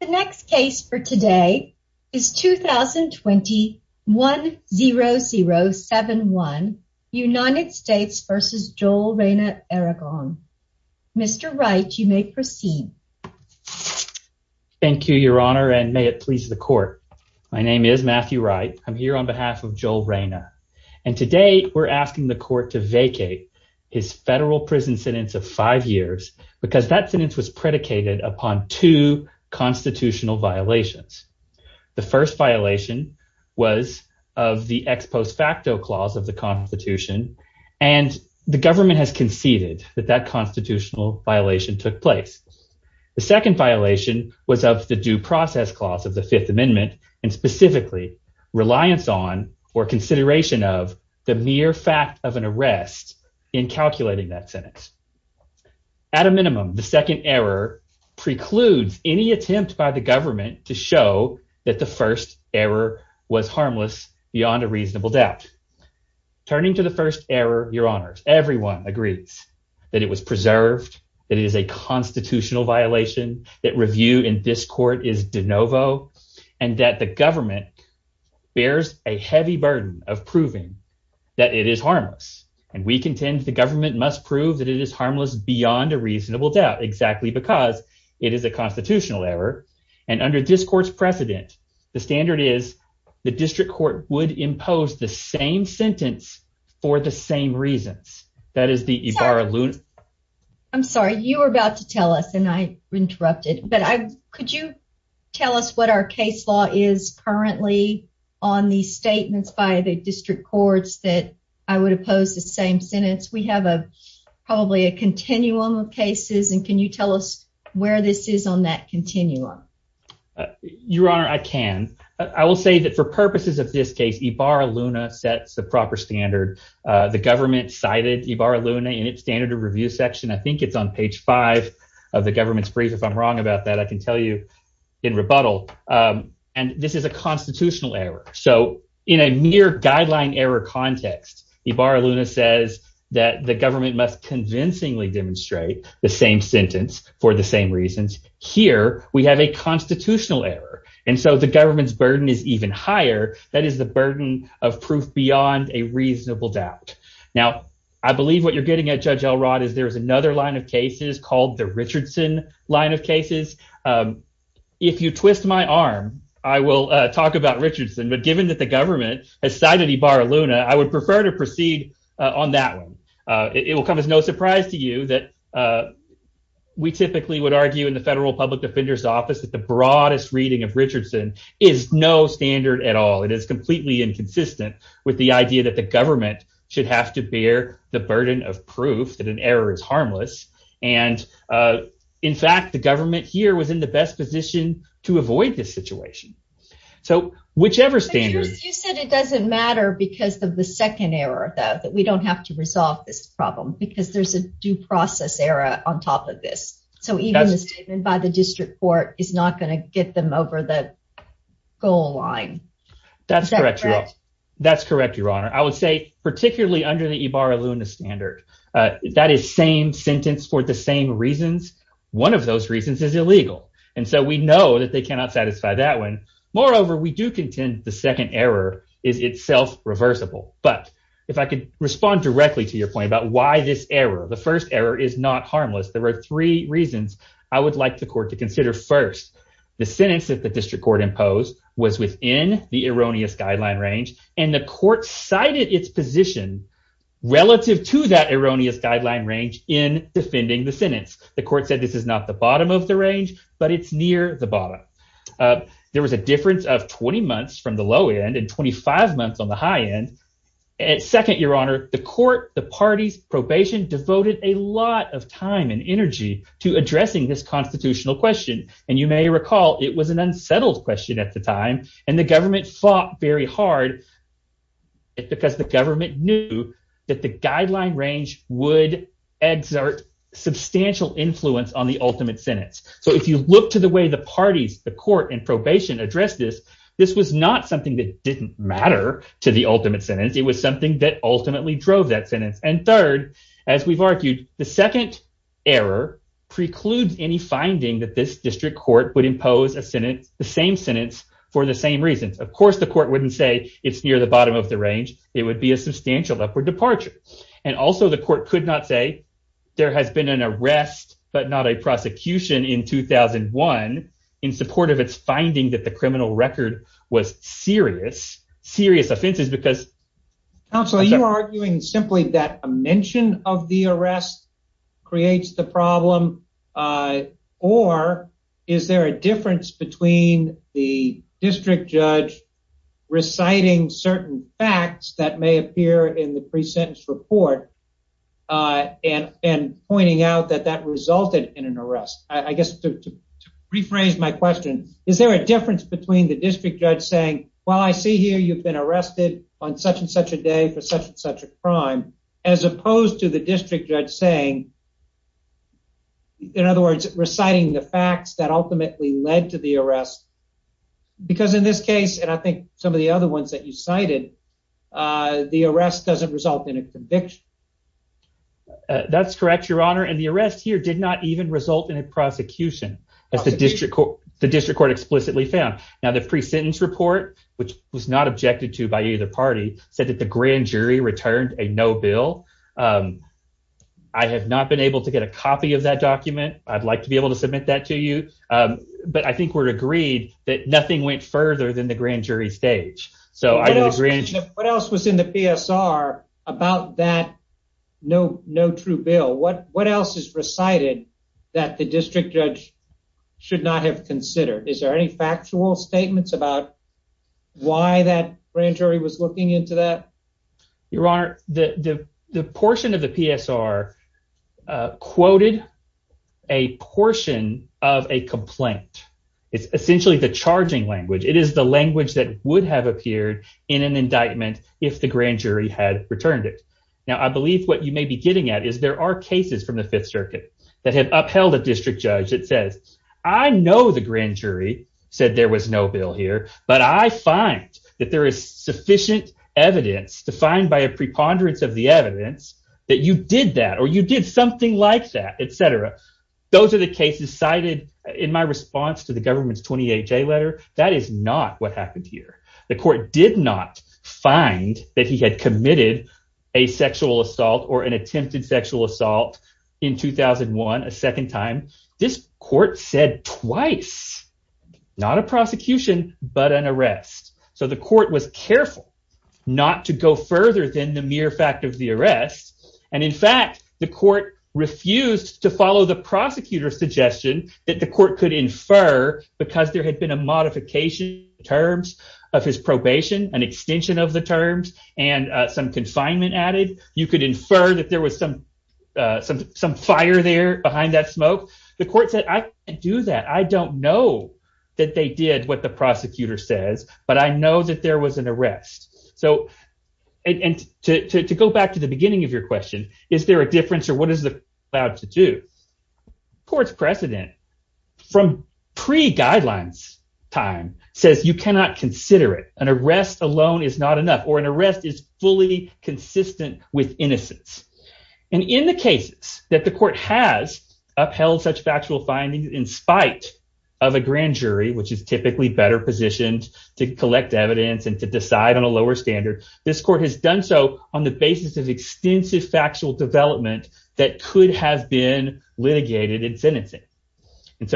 The next case for today is 2021-0071 United States v. Joel Reyna-Aragon. Mr. Wright, you may proceed. Thank you, your honor, and may it please the court. My name is Matthew Wright. I'm here on behalf of Joel Reyna, and today we're asking the court to vacate his federal prison sentence of two constitutional violations. The first violation was of the ex post facto clause of the Constitution, and the government has conceded that that constitutional violation took place. The second violation was of the due process clause of the Fifth Amendment, and specifically reliance on or consideration of the mere fact of an arrest in calculating that sentence. At a minimum, the second error precludes any attempt by the government to show that the first error was harmless beyond a reasonable doubt. Turning to the first error, your honors, everyone agrees that it was preserved, that it is a constitutional violation, that review in this court is de novo, and that the government bears a heavy burden of proving that it is harmless, and we contend the government must prove that it is harmless beyond a reasonable doubt, exactly because it is a constitutional error, and under this court's precedent, the standard is the district court would impose the same sentence for the same reasons. I'm sorry, you were about to tell us, and I interrupted, but could you tell us what our same sentence is? We have probably a continuum of cases, and can you tell us where this is on that continuum? Your honor, I can. I will say that for purposes of this case, Ibarra-Luna sets the proper standard. The government cited Ibarra-Luna in its standard of review section, I think it's on page five of the government's brief, if I'm wrong about that, I can tell you in rebuttal, and this is a constitutional error, so in a mere guideline error context, Ibarra-Luna says that the government must convincingly demonstrate the same sentence for the same reasons. Here, we have a constitutional error, and so the government's burden is even higher. That is the burden of proof beyond a reasonable doubt. Now, I believe what you're getting at, Judge Elrod, is there is another line of cases called the Richardson line of cases. If you twist my arm, I will talk about Richardson, but given that the government has cited Ibarra-Luna, I would prefer to proceed on that one. It will come as no surprise to you that we typically would argue in the Federal Public Defender's Office that the broadest reading of Richardson is no standard at all. It is completely inconsistent with the idea that the government should have to bear the burden of proof that an error is harmless, and in fact, the government here was in the best position to avoid this situation. So, whichever standard- It doesn't matter because of the second error, though, that we don't have to resolve this problem because there's a due process error on top of this. So, even a statement by the district court is not going to get them over the goal line. That's correct, Your Honor. That's correct, Your Honor. I would say, particularly under the Ibarra-Luna standard, that is same sentence for the same reasons. One of those reasons is illegal, and so we know that they cannot satisfy that one. Moreover, we do contend the second error is itself reversible, but if I could respond directly to your point about why this error, the first error, is not harmless, there are three reasons I would like the court to consider. First, the sentence that the district court imposed was within the erroneous guideline range, and the court cited its position relative to that erroneous guideline range in defending the sentence. The court said this is not the bottom of the range, but it's near the difference of 20 months from the low end and 25 months on the high end. Second, Your Honor, the court, the parties, probation devoted a lot of time and energy to addressing this constitutional question, and you may recall it was an unsettled question at the time, and the government fought very hard because the government knew that the guideline range would exert substantial influence on the ultimate sentence, so if you look to the way the parties, the court, and probation addressed this, this was not something that didn't matter to the ultimate sentence. It was something that ultimately drove that sentence, and third, as we've argued, the second error precludes any finding that this district court would impose a sentence, the same sentence, for the same reasons. Of course, the court wouldn't say it's near the bottom of the range. It would be a substantial upward departure, and also the court could not say there has been an arrest but not a prosecution in 2001 in support of its finding that the criminal record was serious, serious offenses because... Counselor, are you arguing simply that a mention of the arrest creates the problem, or is there a difference between the district judge reciting certain facts that may appear in the pre-sentence report and pointing out that that resulted in an arrest? I guess to rephrase my question, is there a difference between the district judge saying, well, I see here you've been arrested on such and such a day for such and such a crime, as opposed to the district judge saying, in other words, reciting the facts that ultimately led to arrest? Because in this case, and I think some of the other ones that you cited, the arrest doesn't result in a conviction. That's correct, your honor, and the arrest here did not even result in a prosecution, as the district court explicitly found. Now, the pre-sentence report, which was not objected to by either party, said that the grand jury returned a no bill. I have not been able to get a copy of that document. I'd like to be able to submit that to you, but I think we're agreed that nothing went further than the grand jury stage. What else was in the PSR about that no true bill? What else is recited that the district judge should not have considered? Is there any factual statements about why that grand jury was looking into that? Your honor, the portion of the PSR quoted a portion of a complaint. It's essentially the charging language. It is the language that would have appeared in an indictment if the grand jury had returned it. Now, I believe what you may be getting at is there are cases from the Fifth Circuit that have upheld a district judge that says, I know the grand jury said there was no bill here, but I find that there is sufficient evidence defined by a preponderance of the evidence that you did that or you did something like that, etc. Those are the cases cited in my response to the government's 28-J letter. That is not what happened here. The court did not find that he had committed a sexual assault or an attempted sexual assault in 2001, a second time. This court said twice, not a prosecution, but an arrest. The court was careful not to go further than the mere fact of the arrest. In fact, the court refused to follow the prosecutor's suggestion that the court could infer because there had been a modification in terms of his probation, an extension of the terms and some confinement added. You could infer that there was some fire there behind that smoke. The court said, I can't do that. I don't know that they did what the prosecutor says, but I know that there was an arrest. To go back to the beginning of your question, is there a difference or what is the court allowed to do? The court's precedent from pre-guidelines time says you cannot consider it. An arrest alone is not enough or an arrest is fully consistent with innocence. In the cases that the court has upheld such factual findings in spite of a grand jury, which is typically better positioned to collect evidence and to decide on a lower standard, this court has done so on the basis of extensive factual development that could have been litigated in sentencing. If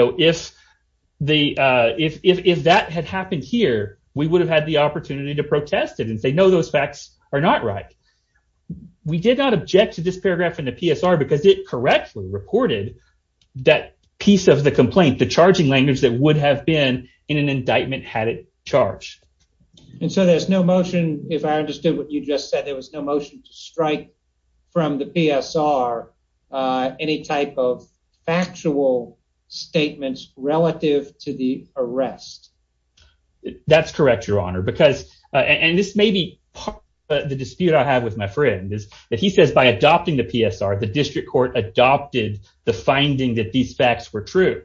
that had happened here, we would have had opportunity to protest it and say, no, those facts are not right. We did not object to this paragraph in the PSR because it correctly reported that piece of the complaint, the charging language that would have been in an indictment had it charged. There's no motion, if I understood what you just said, there was no motion to strike from the PSR any type of factual statements relative to the arrest. That's correct, your honor, because and this may be the dispute I have with my friend is that he says by adopting the PSR, the district court adopted the finding that these facts were true.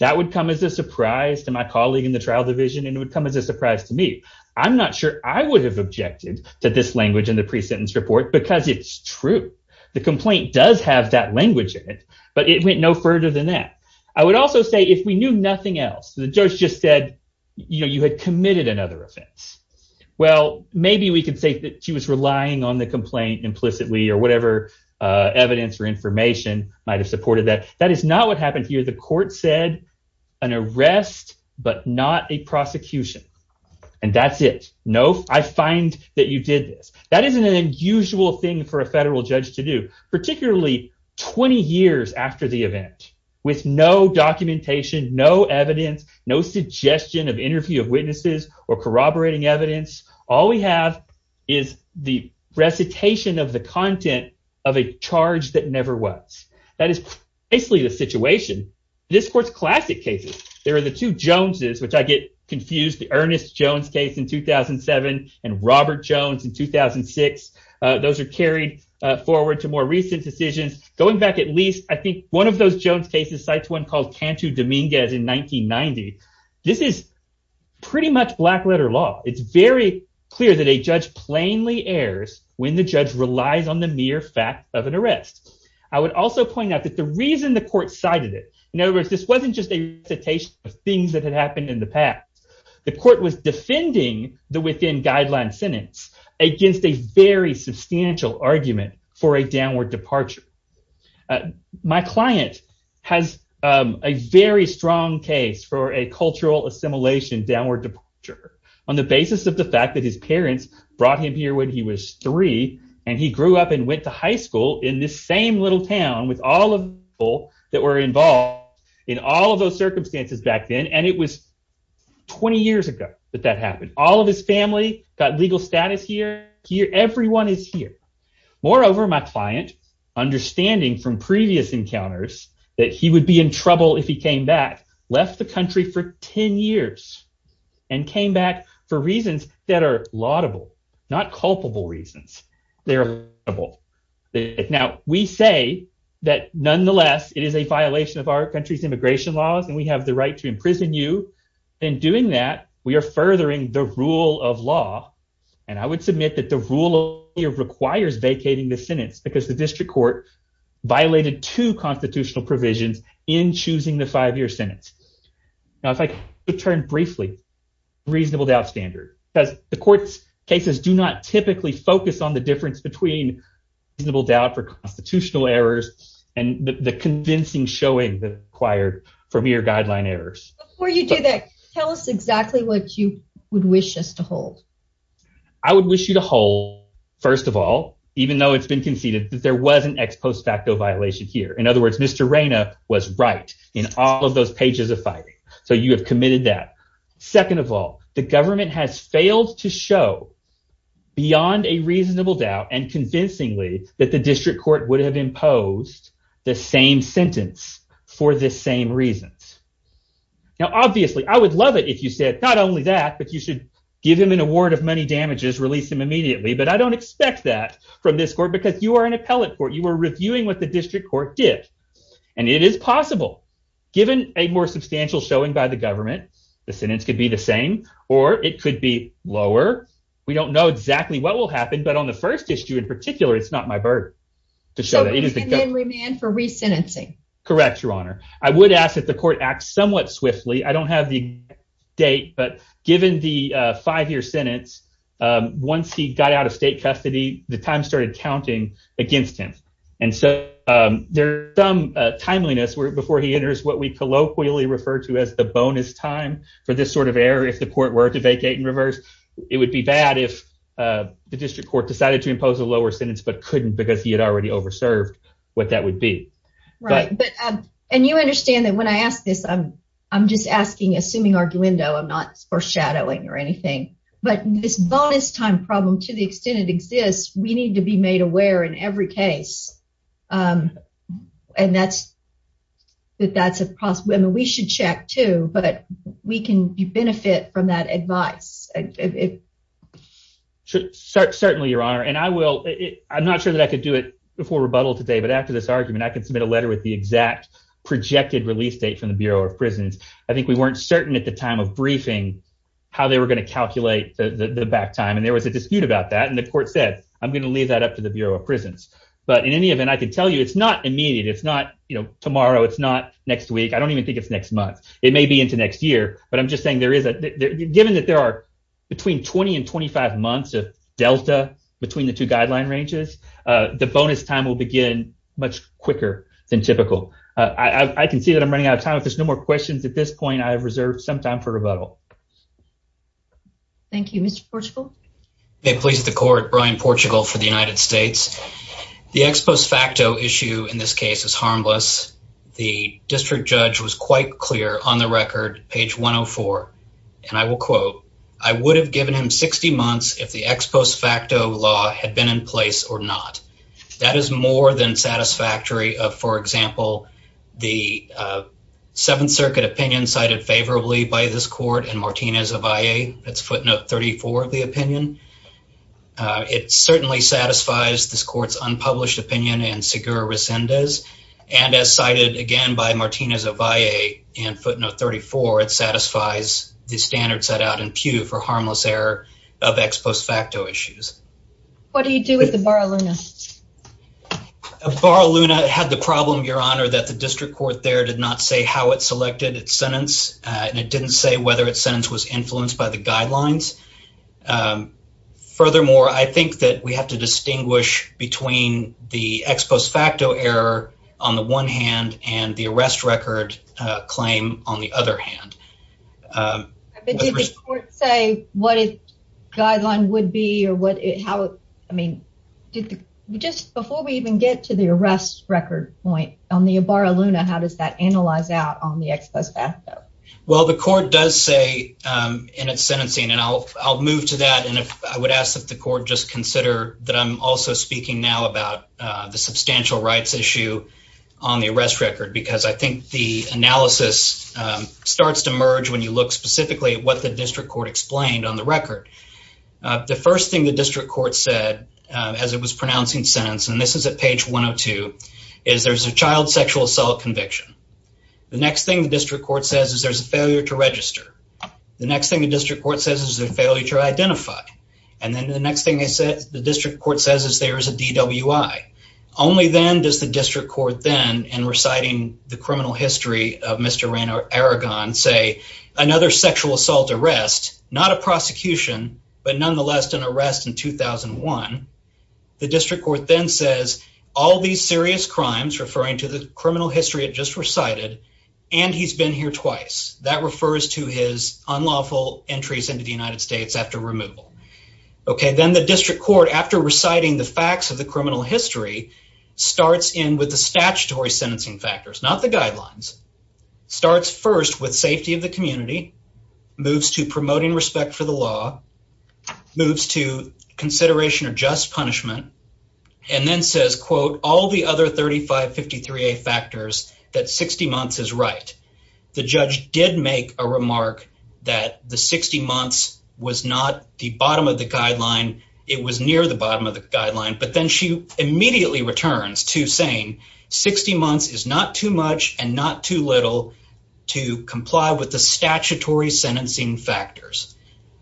That would come as a surprise to my colleague in the trial division and it would come as a surprise to me. I'm not sure I would have objected to this language in the pre-sentence report because it's true. The complaint does have that language in it, but it went no further than that. I would also say if we knew nothing else, the judge just said, you know, you had committed another offense. Well, maybe we could say that she was relying on the complaint implicitly or whatever evidence or information might've supported that. That is not what happened here. The court said an arrest, but not a prosecution and that's it. No, I find that you did this. That isn't an usual thing for a federal judge to do, particularly 20 years after the event with no documentation, no evidence, no suggestion of interview of witnesses or corroborating evidence. All we have is the recitation of the content of a charge that never was. That is basically the situation. This court's classic cases. There are the two Joneses, which I get confused, the Ernest Jones case in 2007 and Robert Jones in 2006. Those are carried forward to more recent decisions. Going back at least, I think one of those Jones cases cites one called Cantu Dominguez in 1990. This is pretty much black letter law. It's very clear that a judge plainly errs when the judge relies on the mere fact of an arrest. I would also point out that the reason the court cited it, in other words, this wasn't just a recitation of things that had happened in the past. The court was defending the within guideline sentence against a very substantial argument for a downward departure. My client has a very strong case for a cultural assimilation downward departure on the basis of the fact that his parents brought him here when he was three, and he grew up and went to high school in this same little town with all of the people that were involved in all of those circumstances back then. It was 20 years ago that that happened. All of his family got legal status here. Everyone is here. Moreover, my client, understanding from previous encounters that he would be in trouble if he came back, left the country for 10 years and came back for reasons that are laudable, not culpable reasons. They're laudable. Now, we say that, nonetheless, it is a violation of our country's immigration laws and we have the right to imprison you. In doing that, we are furthering the rule of law, and I would submit that the rule of law requires vacating the sentence because the district court violated two constitutional provisions in choosing the five-year sentence. Now, if I could turn briefly to the reasonable doubt standard, because the court's cases do not typically focus on the constitutional errors and the convincing showing that required for mere guideline errors. Before you do that, tell us exactly what you would wish us to hold. I would wish you to hold, first of all, even though it's been conceded that there was an ex post facto violation here. In other words, Mr. Reyna was right in all of those pages of fighting, so you have committed that. Second of all, the government has failed to show beyond a reasonable doubt and convincingly that the district court would have imposed the same sentence for the same reasons. Now, obviously, I would love it if you said not only that, but you should give him an award of money damages, release him immediately, but I don't expect that from this court because you are an appellate court. You are reviewing what the district court did, and it is possible. Given a more substantial showing by the government, the sentence could be the same, or it could be lower. We don't know exactly what will happen, but on the first issue in particular, it's not my burden to show that. So he's a manly man for re-sentencing? Correct, Your Honor. I would ask that the court act somewhat swiftly. I don't have the date, but given the five-year sentence, once he got out of state custody, the time started counting against him, and so there's some timeliness before he enters what we colloquially refer to as the bonus time for this sort of error. If the court were to vacate and reverse, it would be bad if the district court decided to impose a lower sentence but couldn't because he had already over-served what that would be. Right, and you understand that when I ask this, I'm just asking, assuming arguendo, I'm not foreshadowing or anything, but this bonus time problem, to the extent it exists, we need to be made aware in every case, and that's a possibility. We should check too, but we can benefit from that advice. Certainly, Your Honor, and I'm not sure that I could do it before rebuttal today, but after this argument, I can submit a letter with the exact projected release date from the Bureau of Prisons. I think we weren't certain at the time of briefing how they were going to calculate the back time, and there was a dispute about that, and the court said, I'm going to leave that up to the Bureau of Prisons. But in any event, I can tell you it's not immediate. It's not tomorrow. It's not next week. I don't even think it's next month. It may be into next year, but I'm just saying there is – given that there are between 20 and 25 months of delta between the two guideline ranges, the bonus time will begin much quicker than typical. I can see that I'm running out of time. If there's no more questions at this point, I have reserved some time for rebuttal. Thank you. Mr. Portugal? May it please the court, Brian Portugal for the United States. The ex post facto issue in this case is harmless. The district judge was quite clear on the record, page 104, and I will quote, I would have given him 60 months if the ex post facto law had been in place or not. That is more than satisfactory of, for example, the Seventh Circuit opinion cited by this court and Martinez-Ovalle, footnote 34 of the opinion. It certainly satisfies this court's unpublished opinion and Segura Resendez, and as cited again by Martinez-Ovalle and footnote 34, it satisfies the standards set out in Pew for harmless error of ex post facto issues. What do you do with the Bar-a-Luna? Bar-a-Luna had the problem, Your Honor, that the district court there did not say how it selected its sentence, and it didn't say whether its sentence was influenced by the guidelines. Furthermore, I think that we have to distinguish between the ex post facto error on the one hand and the arrest record claim on the other hand. Did the court say what its guideline would be or what it, how, I mean, did the, just before we even get to the arrest record point on the ex post facto? Well, the court does say in its sentencing, and I'll move to that, and I would ask that the court just consider that I'm also speaking now about the substantial rights issue on the arrest record because I think the analysis starts to merge when you look specifically at what the district court explained on the record. The first thing the district court said as it was pronouncing sentence, and this is at page 102, is there's a child sexual assault conviction. The next thing the district court says is there's a failure to register. The next thing the district court says is there's a failure to identify, and then the next thing they said, the district court says is there is a DWI. Only then does the district court then, in reciting the criminal history of Mr. Aragon, say another sexual assault arrest, not a prosecution, but nonetheless an arrest in 2001. The district court then says all these serious crimes, referring to the criminal history it just recited, and he's been here twice. That refers to his unlawful entries into the United States after removal. Okay, then the district court, after reciting the facts of the criminal history, starts in with the statutory sentencing factors, not the guidelines, starts first with safety of the community, moves to promoting respect for the law, moves to consideration of just punishment, and then says, quote, all the other 3553A factors that 60 months is right. The judge did make a remark that the 60 months was not the bottom of the guideline. It was near the bottom of the guideline, but then she immediately returns to saying 60 months is not too much and not too little to comply with the statutory sentencing factors.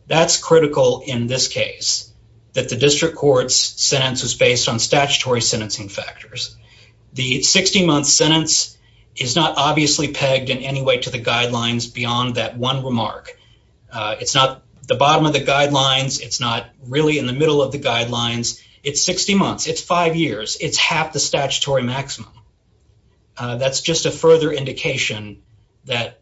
That's critical in this case, that the district court's sentence was based on statutory sentencing factors. The 60 months sentence is not obviously pegged in any way to the guidelines beyond that one remark. It's not the bottom of the guidelines. It's not really in the middle of the guidelines. It's 60 months. It's five years. It's half the statutory maximum. That's just a further indication that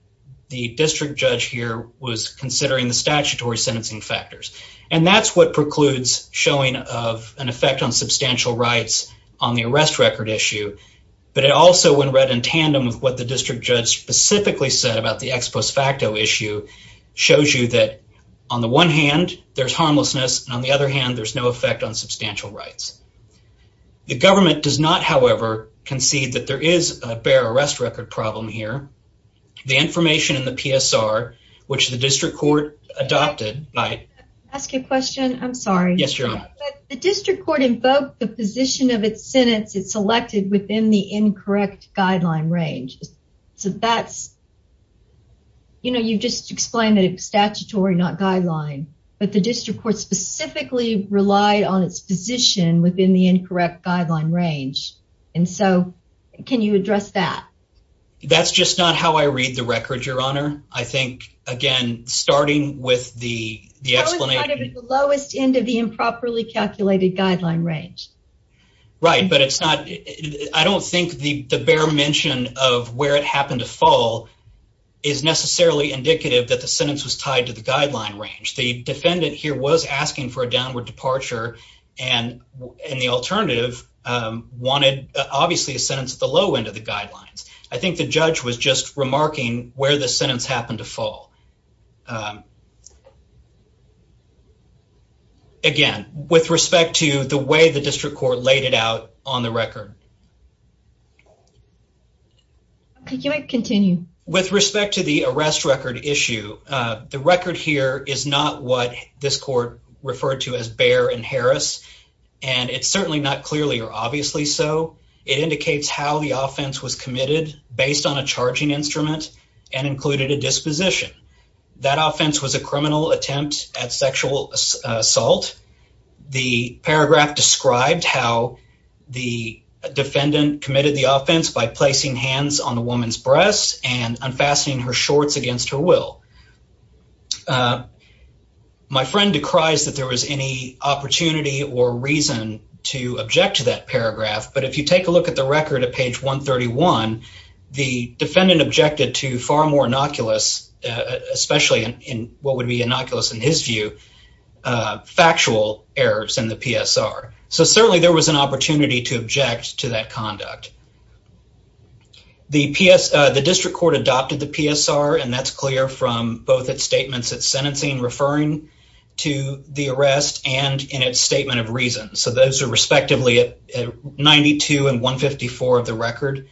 the district judge here was considering the statutory sentencing factors, and that's what precludes showing of an effect on substantial rights on the arrest record issue, but it also, when read in tandem with what the district judge specifically said about the ex post facto issue, shows you that on the one hand, there's harmlessness, and on the other hand, there's no effect on substantial rights. The government does not, however, concede that there is a bare arrest record problem here. The information in the PSR, which the district court adopted... Can I ask a question? I'm sorry. Yes, Your Honor. The district court invoked the position of its sentence it selected within the incorrect guideline range, so that's, you know, you've just explained that it's statutory, not guideline, but the district court specifically relied on its position within the incorrect guideline range. And so, can you address that? That's just not how I read the record, Your Honor. I think, again, starting with the explanation... That was kind of at the lowest end of the improperly calculated guideline range. Right, but it's not... I don't think the bare mention of where it happened to fall is necessarily indicative that the sentence was tied to the guideline range. The defendant here was asking for a downward departure and the alternative wanted, obviously, a sentence at the low end of the guidelines. I think the judge was just remarking where the sentence happened to fall. Again, with respect to the way the district court laid it out on the record. Okay, you might continue. With respect to the arrest record issue, the record here is not what this court referred to as bare and Harris, and it's certainly not clearly or obviously so. It indicates how the offense was committed based on a charging instrument and included a disposition. That offense was a criminal attempt at sexual assault. The paragraph described how the defendant committed the offense by placing hands on the woman's breasts and unfastening her shorts against her will. My friend decries that there was any opportunity or reason to object to that paragraph, but if you take a look at the record at page 131, the defendant objected to far more innocuous, especially in what would be innocuous in his view, factual errors in the PSR. So certainly there was an opportunity to object to that conduct. The district court adopted the PSR, and that's clear from both its statements, its sentencing referring to the arrest and in its statement of reasons. So those are respectively at 92 and 154 of the record.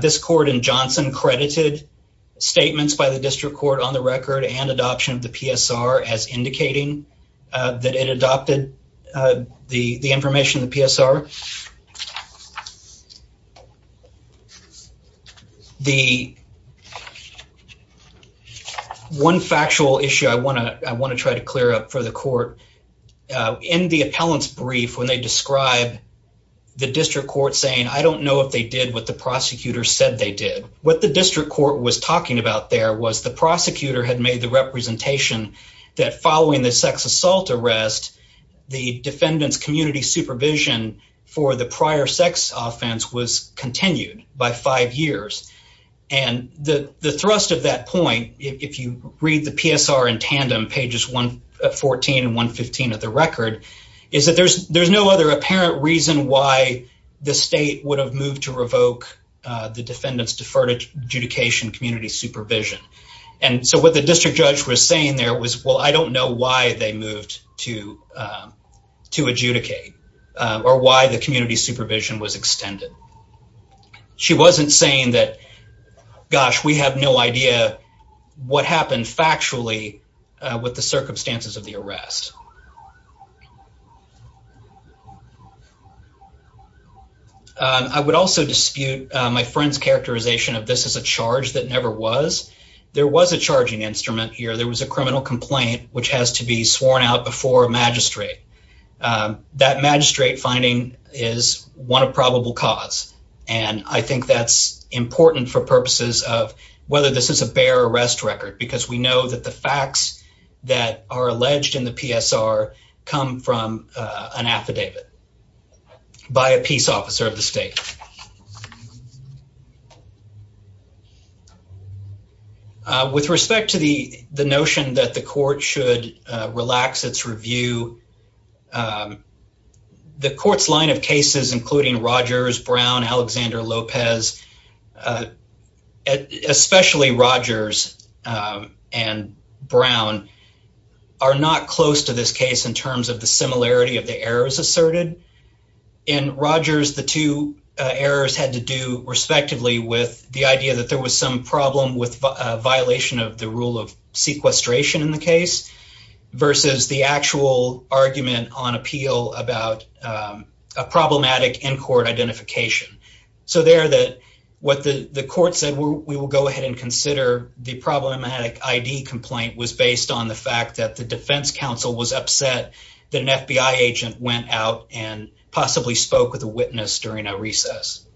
This court in Johnson credited statements by the district court on the record and adoption of the PSR as indicating that it adopted the information in the record. The one factual issue I want to try to clear up for the court, in the appellant's brief, when they describe the district court saying, I don't know if they did what the prosecutor said they did. What the district court was talking about there was the prosecutor had made the representation that following the sex assault arrest, the defendant's community supervision for the prior sex offense was continued by five years. And the thrust of that point, if you read the PSR in tandem, pages 114 and 115 of the record, is that there's no other apparent reason why the state would have moved to revoke the defendant's deferred adjudication community supervision. And so what the district judge was saying there was, well, I don't know why they moved to adjudicate or why the community supervision was extended. She wasn't saying that, gosh, we have no idea what happened factually with the circumstances of the arrest. I would also dispute my friend's characterization of this as a charge that never was. There was a charging instrument here. There was a criminal complaint which has to be sworn out before a magistrate. That magistrate finding is one of probable cause. And I think that's important for purposes of whether this is a bare arrest record because we know that the facts that are alleged in the PSR come from an affidavit by a peace officer of the state. With respect to the notion that the court should relax its review, the court's line of cases, including Rogers, Brown, Alexander, Lopez, especially Rogers and Brown, are not close to this case in terms of the similarity of the errors asserted. In Rogers, the two errors had to do respectively with the idea that there was some problem with violation of the rule of sequestration in the case versus the actual argument on appeal about a problematic in-court identification. So there, what the court said, we will go ahead and consider the problematic ID complaint was based on the fact that the defense counsel was upset that an FBI agent went out and possibly spoke with a witness during a recess.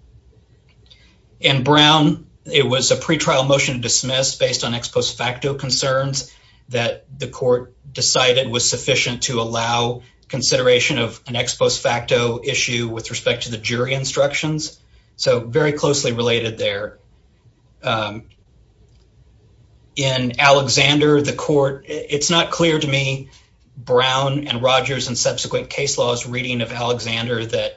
In Brown, it was a pretrial motion dismissed based on ex post facto concerns that the court decided was sufficient to allow consideration of an ex post facto issue with respect to the jury instructions. So very closely related there. In Alexander, the court, it's not clear to me, Brown and Rogers and subsequent case law's reading of Alexander that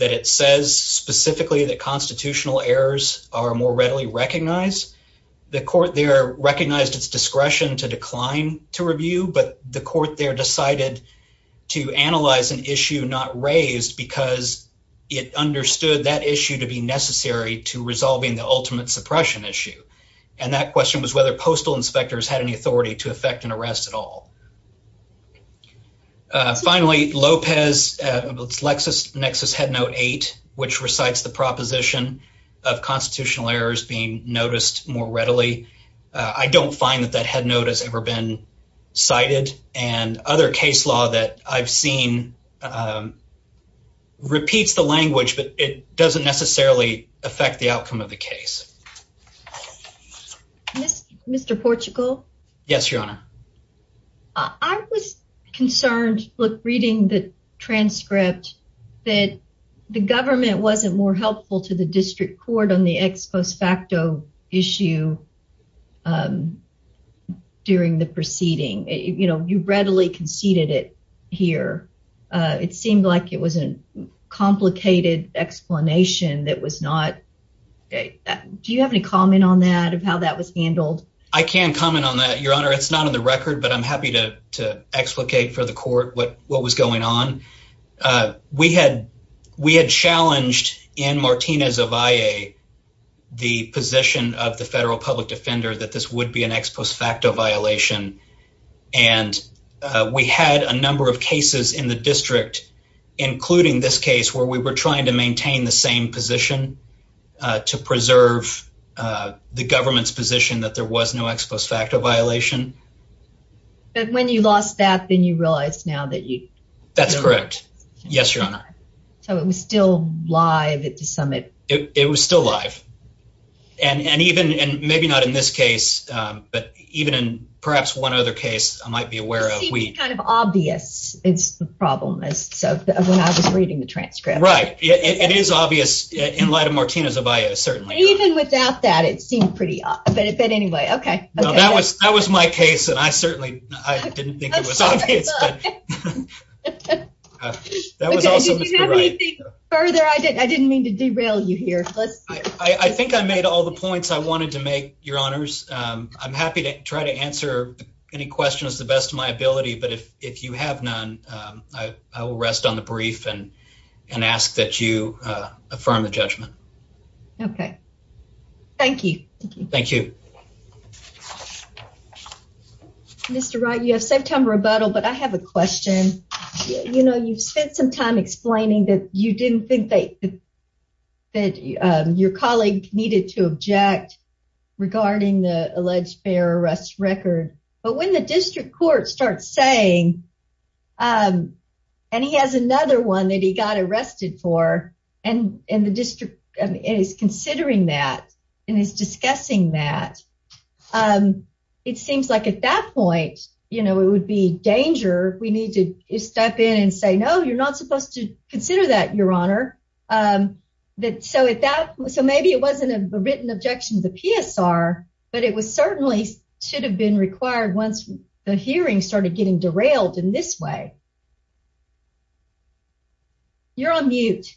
it says specifically that constitutional errors are more readily recognized. The court there recognized its discretion to decline to review, but the court there decided to analyze an issue not raised because it understood that issue to be necessary to resolving the ultimate suppression issue. And that question was whether postal inspectors had any authority to affect an arrest at all. Uh, finally, Lopez, uh, Lexus Nexus head note eight, which recites the proposition of constitutional errors being noticed more readily. I don't find that that had notice ever been cited and other case law that I've seen, um, repeats the language, but it doesn't necessarily affect the outcome of the case. Mr. Portugal. Yes, Your Honor. Uh, I was concerned. Look, reading the transcript that the government wasn't more helpful to the district court on the ex post facto issue. Um, during the proceeding, you know, you readily conceded it here. Uh, it seemed like it was a complicated explanation that was not. Okay. Do you have any comment on that of how that was handled? I can comment on that, Your Honor. It's not on the record, but I'm happy to explicate for the court what what was going on. Uh, we had we had challenged in Martinez of I A the position of the federal public defender that this would be an ex post facto violation, and we had a number of cases in the district, including this case where we were trying to violation. But when you lost that, then you realize now that you that's correct? Yes, Your Honor. So it was still live at the summit. It was still live. And and even and maybe not in this case, but even in perhaps one other case I might be aware of, we kind of obvious. It's the problem is so when I was reading the transcript, right? It is obvious in light of that was my case, and I certainly I didn't think it was obvious. That was also further. I didn't I didn't mean to derail you here. Let's I think I made all the points I wanted to make your honors. I'm happy to try to answer any questions the best of my ability. But if if you have none, I will rest on the brief and and ask that you affirm the judgment. Okay, thank you. Thank you. Mr. Wright, you have some time rebuttal, but I have a question. You know, you've spent some time explaining that you didn't think that that your colleague needed to object regarding the alleged bear arrest record. But when the is considering that, and is discussing that, it seems like at that point, you know, it would be danger, we need to step in and say, No, you're not supposed to consider that, Your Honor. That so if that was so maybe it wasn't a written objection to the PSR, but it was certainly should have been required once the hearing started getting derailed in this way. You're on mute.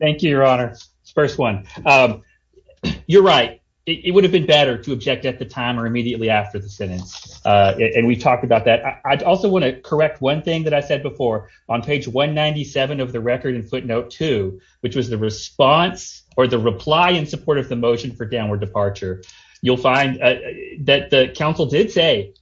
Thank you, Your Honor. First one. You're right. It would have been better to object at the time or immediately after the sentence. And we talked about that. I also want to correct one thing that I said before, on page 197 of the record and footnote to which was the response or the reply in support of the motion for downward departure, you'll find that the council did say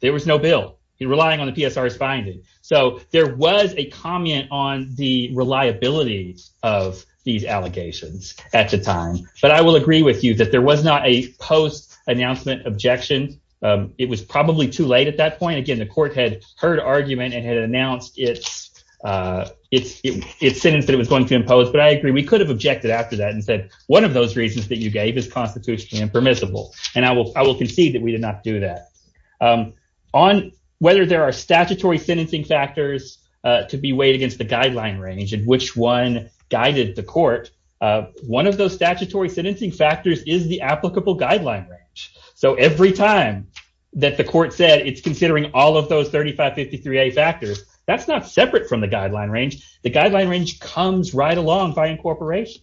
there was no bill, you're relying on the PSR's finding. So there was a comment on the reliability of these allegations at the time. But I will agree with you that there was not a post announcement objection. It was probably too late at that point. Again, the court had heard argument and had announced it's sentence that it was going to impose. But I agree, we could have objected after that and said, one of those reasons that you gave is constitutionally impermissible. And I will concede that we did not do that. On whether there are statutory sentencing factors to be weighed against the guideline range and which one guided the court, one of those statutory sentencing factors is the applicable guideline range. So every time that the court said it's considering all of those 3553A factors, that's not separate from the guideline range. The guideline range comes right along by incorporation.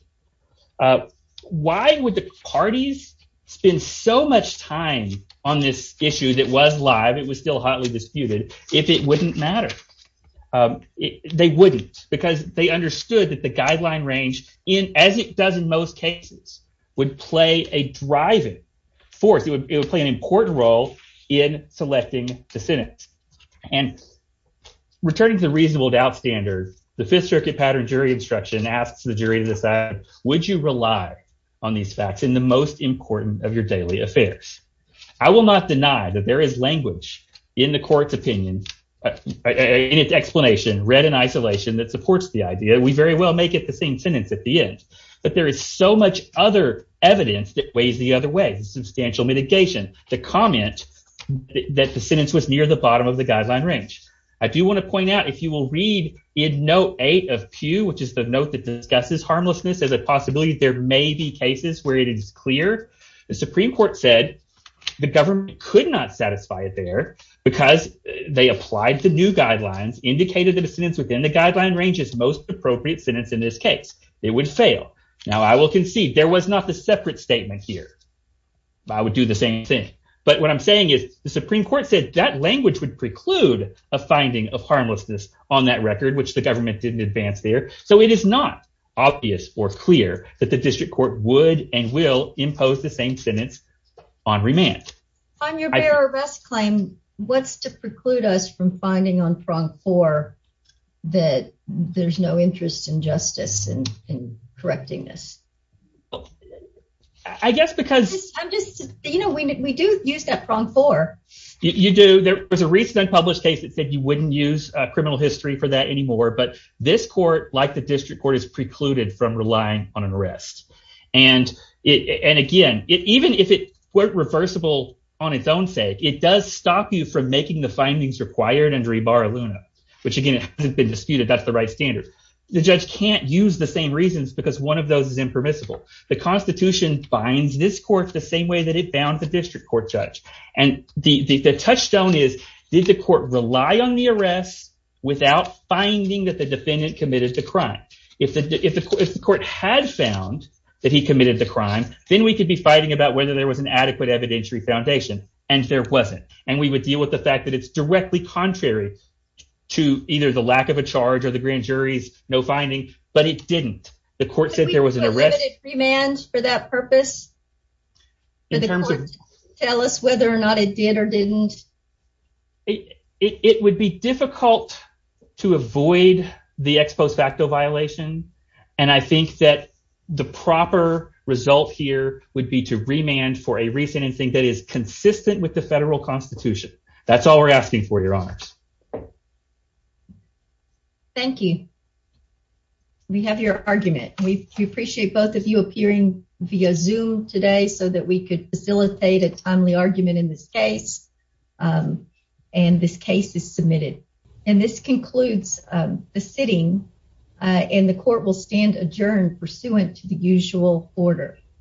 Why would the parties spend so much time on this issue that was live, it was still hotly disputed, if it wouldn't matter? They wouldn't, because they understood that the guideline range, as it does in most cases, would play a driving force. It would play an important role in selecting the sentence. And returning to the reasonable doubt standard, the Fifth Circuit pattern jury instruction asks the jury to decide, would you rely on these facts in the most important of your daily affairs? I will not deny that there is language in the court's opinion, in its explanation, read in isolation, that supports the idea. We very well make it the same sentence at the end. But there is so much other evidence that weighs the other way, substantial mitigation. The comment that the sentence was near the bottom of the guideline range. I do want to point out, if you will read in Note 8 of Pew, which is the note that discusses harmlessness as a possibility, there may be cases where it is clear. The Supreme Court said the government could not satisfy it there because they applied the new guidelines, indicated that a sentence within the guideline range is most appropriate sentence in this case. It would fail. Now, I will concede there was not a separate statement here. I would do the same thing. But what I'm saying is the Supreme Court said that language would preclude a finding of harmlessness on that record, which the government didn't advance there. So it is not obvious or clear that the district court would and will impose the same sentence on remand. On your bear arrest claim, what's to preclude us from I guess because you know, we do use that prong for you do. There was a recent published case that said you wouldn't use criminal history for that anymore. But this court, like the district court, is precluded from relying on an arrest. And it and again, it even if it were reversible on its own sake, it does stop you from making the findings required and rebar Luna, which, again, has been disputed. That's the right standard. The judge can't use the same reasons because one of those is impermissible. The Constitution binds this court the same way that it bound the district court judge. And the touchstone is, did the court rely on the arrest without finding that the defendant committed the crime? If the court had found that he committed the crime, then we could be fighting about whether there was an adequate evidentiary foundation. And there wasn't. And we would deal with the fact that it's directly contrary to either the lack of charge or the grand jury's no finding. But it didn't. The court said there was an arrest for that purpose in terms of tell us whether or not it did or didn't. It would be difficult to avoid the ex post facto violation. And I think that the proper result here would be to remand for a reason and think that is consistent with the federal Constitution. That's all we're asking for your honors. Thank you. We have your argument. We appreciate both of you appearing via Zoom today so that we could facilitate a timely argument in this case. And this case is submitted. And this concludes the sitting in the court will stand adjourned pursuant to the usual order.